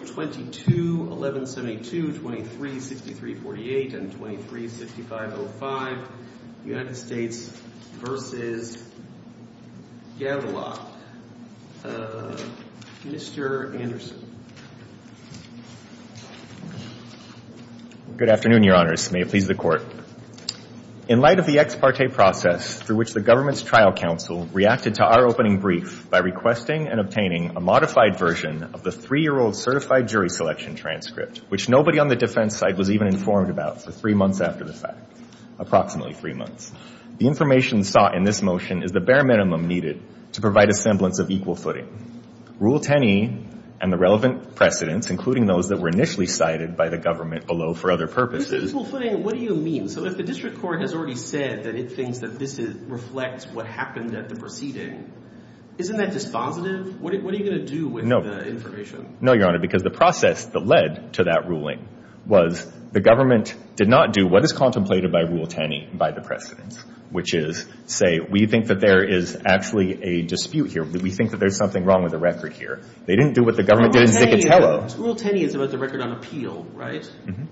, Mr. Anderson. Good afternoon, Your Honors. May it please the Court. In light of the ex parte process through which the government's trial counsel reacted to our opening brief by requesting and obtaining a modified version of the three-year-old certified jury selection transcript, which nobody on the defense side was even informed about for three months after the fact, approximately three months, the information sought in this motion is the bare minimum needed to provide a semblance of equal footing. Rule 10e and the relevant precedents, including those that were initially cited by the government below for other purposes equal footing, what do you mean? So if the district court has already said that it thinks that this reflects what happened at the proceeding, isn't that dispositive? What are you going to do with the information? No, Your Honor, because the process that led to that ruling was the government did not do what is contemplated by Rule 10e by the precedents, which is, say, we think that there is actually a dispute here. We think that there's something wrong with the record here. They didn't do what the government did in Zicatello. Rule 10e is about the record on appeal, right? Mm-hmm.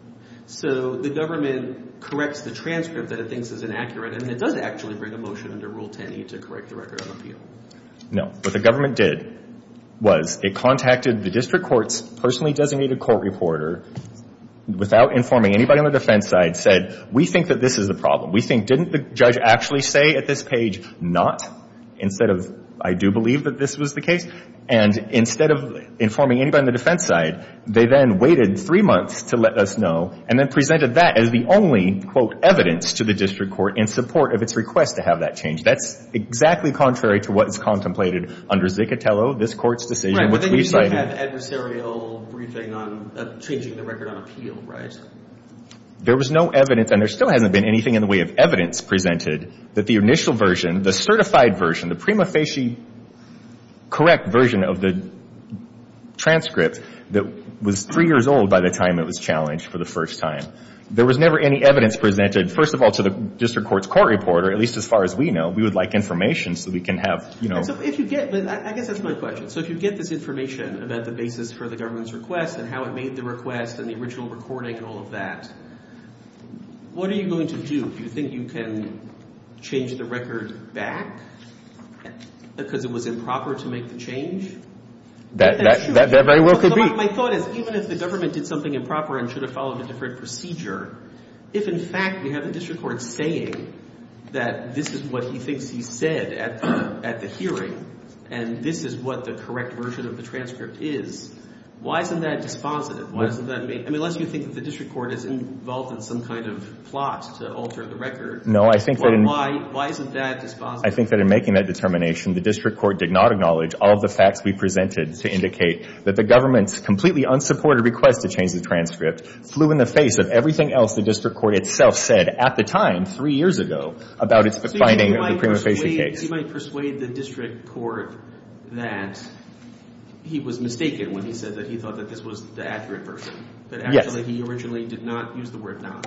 So the government corrects the transcript that it thinks is inaccurate, and it does actually bring a motion under Rule 10e to correct the record on appeal. No. What the government did was it contacted the district court's personally designated court reporter without informing anybody on the defense side, said, we think that this is a problem. We think, didn't the judge actually say at this page, not, instead of, I do believe that this was the case? And instead of informing anybody on the defense side, they then waited three months to let us know, and then presented that as the only, quote, evidence to the district court in support of its request to have that changed. That's exactly contrary to what is contemplated under Zicatello, this court's decision, which we cited. Right. I think we still have adversarial briefing on changing the record on appeal, right? There was no evidence, and there still hasn't been anything in the way of evidence presented, that the initial version, the certified version, the summa facie correct version of the transcript that was three years old by the time it was challenged for the first time. There was never any evidence presented, first of all, to the district court's court reporter, at least as far as we know. We would like information so we can have, you know. If you get, I guess that's my question. So if you get this information about the basis for the government's request and how it made the request and the original recording and all of that, what are you going to do? Do you think you can change the record back because it was improper to make the change? That very well could be. My thought is even if the government did something improper and should have followed a different procedure, if in fact we have the district court saying that this is what he thinks he said at the hearing and this is what the correct version of the transcript is, why isn't that dispositive? I mean, unless you think that the district court is involved in some kind of plot to alter the record. No, I think that in making that determination, the district court did not acknowledge all of the facts we presented to indicate that the government's completely unsupported request to change the transcript flew in the face of everything else the district court itself said at the time, three years ago, about its finding of the prima facie case. He might persuade the district court that he was mistaken when he said that he thought that this was the accurate version, that actually he originally did not use the word not.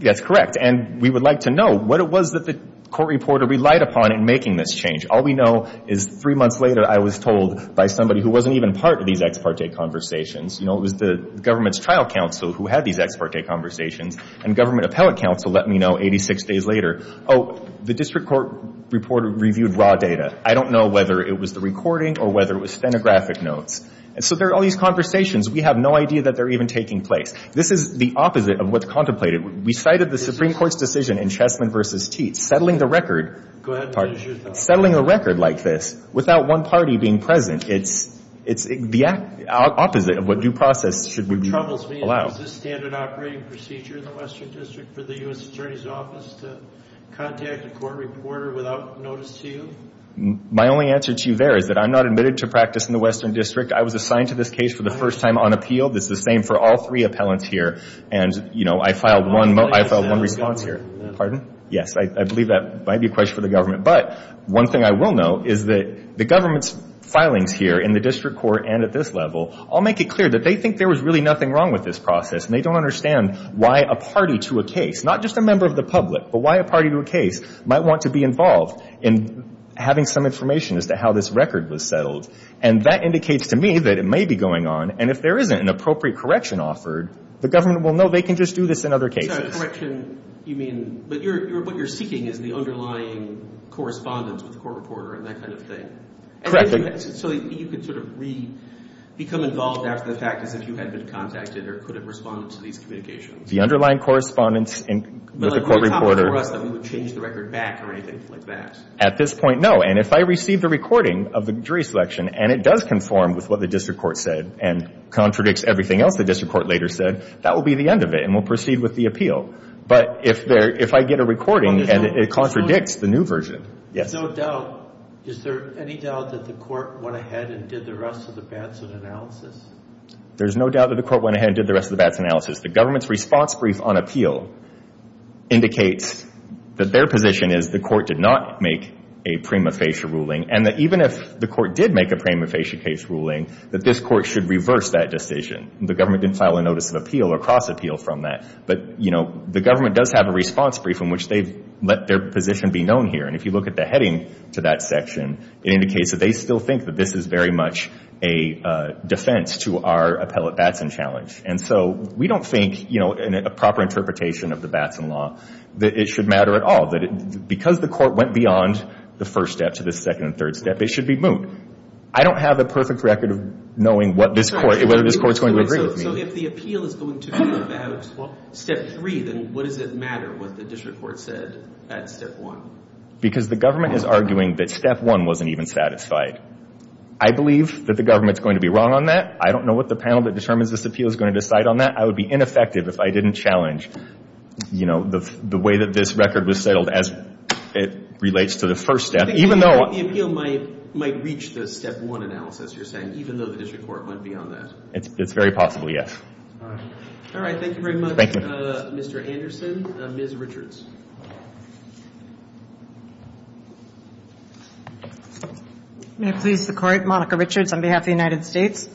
Yes, correct. And we would like to know what it was that the court reporter relied upon in making this change. All we know is three months later, I was told by somebody who wasn't even part of these ex parte conversations, you know, it was the government's trial counsel who had these ex parte conversations and government appellate counsel let me know 86 days later, oh, the district court reporter reviewed raw data. I don't know whether it was the recording or whether it was stenographic notes. And so there are all these conversations. We have no idea that they're even taking place. This is the opposite of what's contemplated. We cited the Supreme Court's decision in Chessman v. Teats, settling the record. Go ahead and finish your thought. Settling a record like this without one party being present, it's the opposite of what due process should be allowed. Does this standard operating procedure in the Western District for the U.S. Attorney's Office to contact a court reporter without notice to you? My only answer to you there is that I'm not admitted to practice in the Western District. I was assigned to this case for the first time on appeal. This is the same for all three appellants here. And, you know, I filed one response here. Pardon? Yes, I believe that might be a question for the government. But one thing I will note is that the government's filings here in the district court and at this level all make it clear that they think there was really nothing wrong with this process. And they don't understand why a party to a case, not just a member of the public, but why a party to a case might want to be involved in having some information as to how this record was settled. And that indicates to me that it may be going on. And if there isn't an appropriate correction offered, the government will know they can just do this in other cases. So correction, you mean, but what you're seeking is the underlying correspondence with the court reporter and that kind of thing. Correct. So you could sort of re-become involved after the fact as if you had been contacted or could have responded to these communications. The underlying correspondence with the court reporter. But it wouldn't be a problem for us that we would change the record back or anything like that. At this point, no. And if I receive the recording of the jury selection and it does conform with what the district court said and contradicts everything else the district court later said, that will be the end of it and we'll proceed with the appeal. But if I get a recording and it contradicts the new version, yes. There's no doubt. Is there any doubt that the court went ahead and did the rest of the Batson analysis? There's no doubt that the court went ahead and did the rest of the Batson analysis. The government's response brief on appeal indicates that their position is the court did not make a prima facie ruling and that even if the court did make a prima facie case ruling, that this court should reverse that decision. The government didn't file a notice of appeal or cross-appeal from that. But, you know, the government does have a response brief in which they've let their position be known here. And if you look at the heading to that section, it indicates that they still think that this is very much a defense to our appellate Batson challenge. And so we don't think, you know, in a proper interpretation of the Batson law, that it should matter at all. Because the court went beyond the first step to the second and third step, it should be moot. I don't have a perfect record of knowing whether this court's going to agree with me. So if the appeal is going to be about step three, then what does it matter what the district court said at step one? Because the government is arguing that step one wasn't even satisfied. I believe that the government's going to be wrong on that. I don't know what the panel that determines this appeal is going to decide on that. I would be ineffective if I didn't challenge, you know, the way that this record was settled as it relates to the first step. I think the appeal might reach the step one analysis you're saying, even though the district court went beyond that. It's very possible, yes. All right. Thank you very much, Mr. Anderson. Ms. Richards. May it please the Court. Monica Richards on behalf of the United States.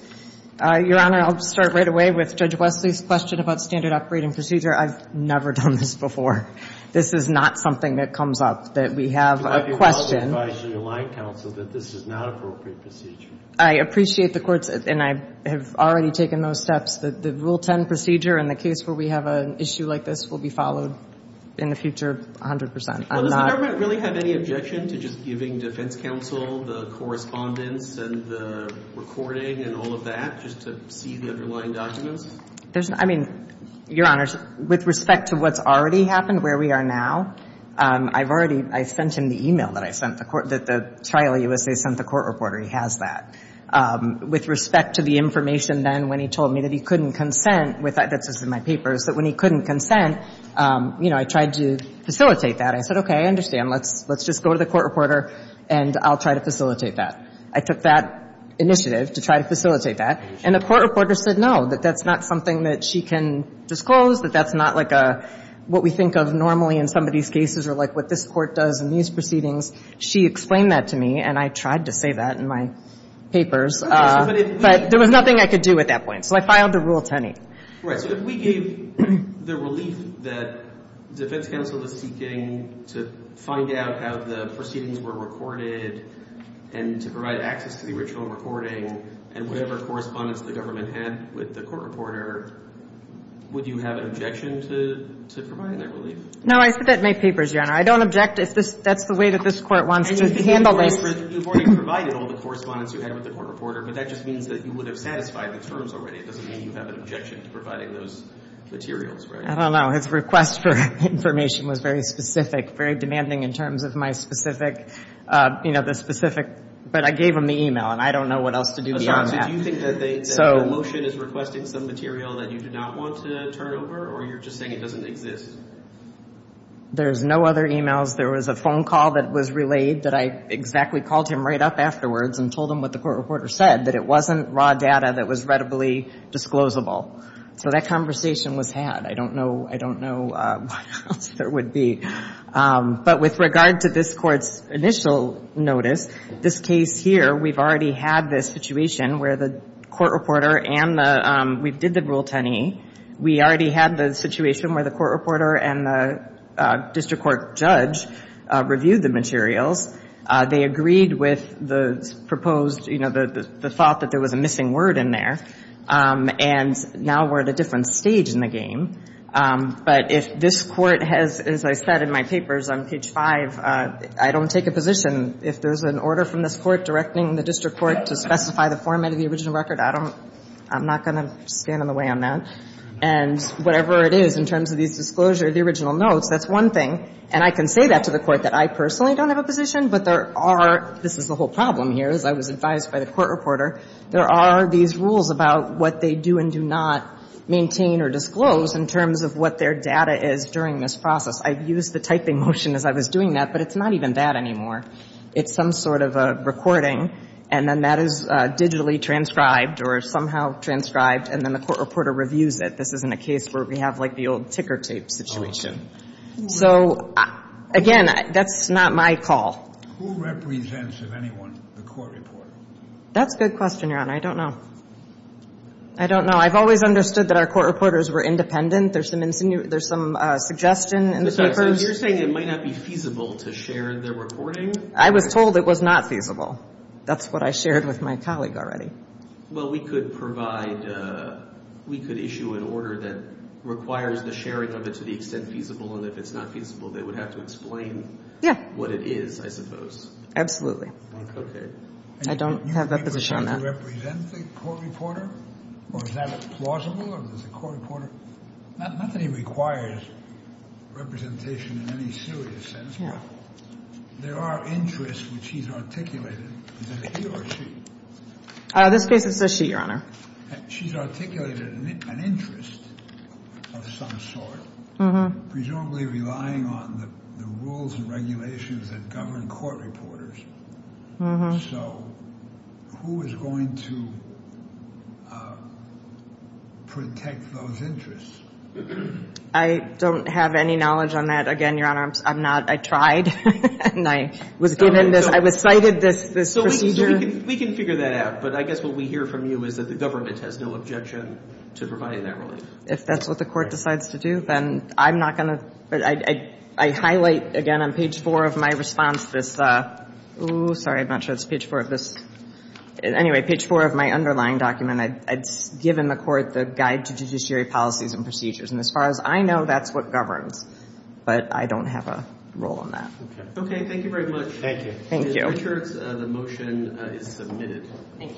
Your Honor, I'll start right away with Judge Wesley's question about standard operating procedure. I've never done this before. This is not something that comes up, that we have a question. I would advise your line counsel that this is not appropriate procedure. I appreciate the Court's, and I have already taken those steps, that the Rule 10 procedure in the case where we have an issue like this will be followed in the future 100 percent. Does the government really have any objection to just giving defense counsel the correspondence and the recording and all of that just to see the underlying documents? I mean, Your Honor, with respect to what's already happened, where we are now, I've already I sent him the e-mail that I sent the court, that the trial USA sent the court reporter. He has that. With respect to the information then when he told me that he couldn't consent with that, that's just in my papers, that when he couldn't consent, you know, I tried to facilitate that. I said, okay, I understand. Let's just go to the court reporter, and I'll try to facilitate that. I took that initiative to try to facilitate that. And the court reporter said no, that that's not something that she can disclose, that that's not like what we think of normally in somebody's cases or like what this court does in these proceedings. She explained that to me, and I tried to say that in my papers. But there was nothing I could do at that point. So I filed the Rule 10-E. Right. So if we gave the relief that defense counsel is seeking to find out how the proceedings were recorded and to provide access to the original recording and whatever correspondence the government had with the court reporter, would you have an objection to providing that relief? No, I said that in my papers, Your Honor. I don't object if that's the way that this court wants to handle this. You've already provided all the correspondence you had with the court reporter, but that just means that you would have satisfied the terms already. It doesn't mean you have an objection to providing those materials, right? I don't know. His request for information was very specific, very demanding in terms of my specific But I gave him the e-mail, and I don't know what else to do beyond that. So do you think that the motion is requesting some material that you do not want to turn over, or you're just saying it doesn't exist? There's no other e-mails. There was a phone call that was relayed that I exactly called him right up afterwards and told him what the court reporter said, that it wasn't raw data that was readily disclosable. So that conversation was had. I don't know what else there would be. But with regard to this court's initial notice, this case here, we've already had this situation where the court reporter and the we did the Rule 10e. We already had the situation where the court reporter and the district court judge reviewed the materials. They agreed with the proposed, you know, the thought that there was a missing word in there. And now we're at a different stage in the game. But if this court has, as I said in my papers on page 5, I don't take a position. If there's an order from this court directing the district court to specify the format of the original record, I don't — I'm not going to stand in the way on that. And whatever it is in terms of these disclosure, the original notes, that's one thing. And I can say that to the court, that I personally don't have a position, but there are — this is the whole problem here, as I was advised by the court reporter — there are these rules about what they do and do not maintain or disclose. In terms of what their data is during this process, I've used the typing motion as I was doing that, but it's not even that anymore. It's some sort of a recording, and then that is digitally transcribed or somehow transcribed, and then the court reporter reviews it. This isn't a case where we have, like, the old ticker tape situation. So, again, that's not my call. Who represents, if anyone, the court reporter? That's a good question, Your Honor. I don't know. I don't know. I've always understood that our court reporters were independent. There's some suggestion in the papers. You're saying it might not be feasible to share their recording? I was told it was not feasible. That's what I shared with my colleague already. Well, we could provide — we could issue an order that requires the sharing of it to the extent feasible, and if it's not feasible, they would have to explain what it is, I suppose. Absolutely. Okay. I don't have a position on that. Does he represent the court reporter, or is that plausible, or is it the court reporter? Not that he requires representation in any serious sense, but there are interests which he's articulated. Is it he or she? This case, it's a she, Your Honor. She's articulated an interest of some sort, presumably relying on the rules and regulations that govern court reporters. So who is going to protect those interests? I don't have any knowledge on that. Again, Your Honor, I'm not — I tried, and I was given this — I was cited this procedure. So we can figure that out, but I guess what we hear from you is that the government has no objection to providing that relief. If that's what the court decides to do, then I'm not going to — I highlight, again, on page 4 of my response, this — ooh, sorry, I'm not sure it's page 4 of this. Anyway, page 4 of my underlying document, I've given the court the guide to judiciary policies and procedures, and as far as I know, that's what governs, but I don't have a role in that. Okay. Thank you very much. Thank you. Thank you. Mr. Richards, the motion is submitted. Thank you.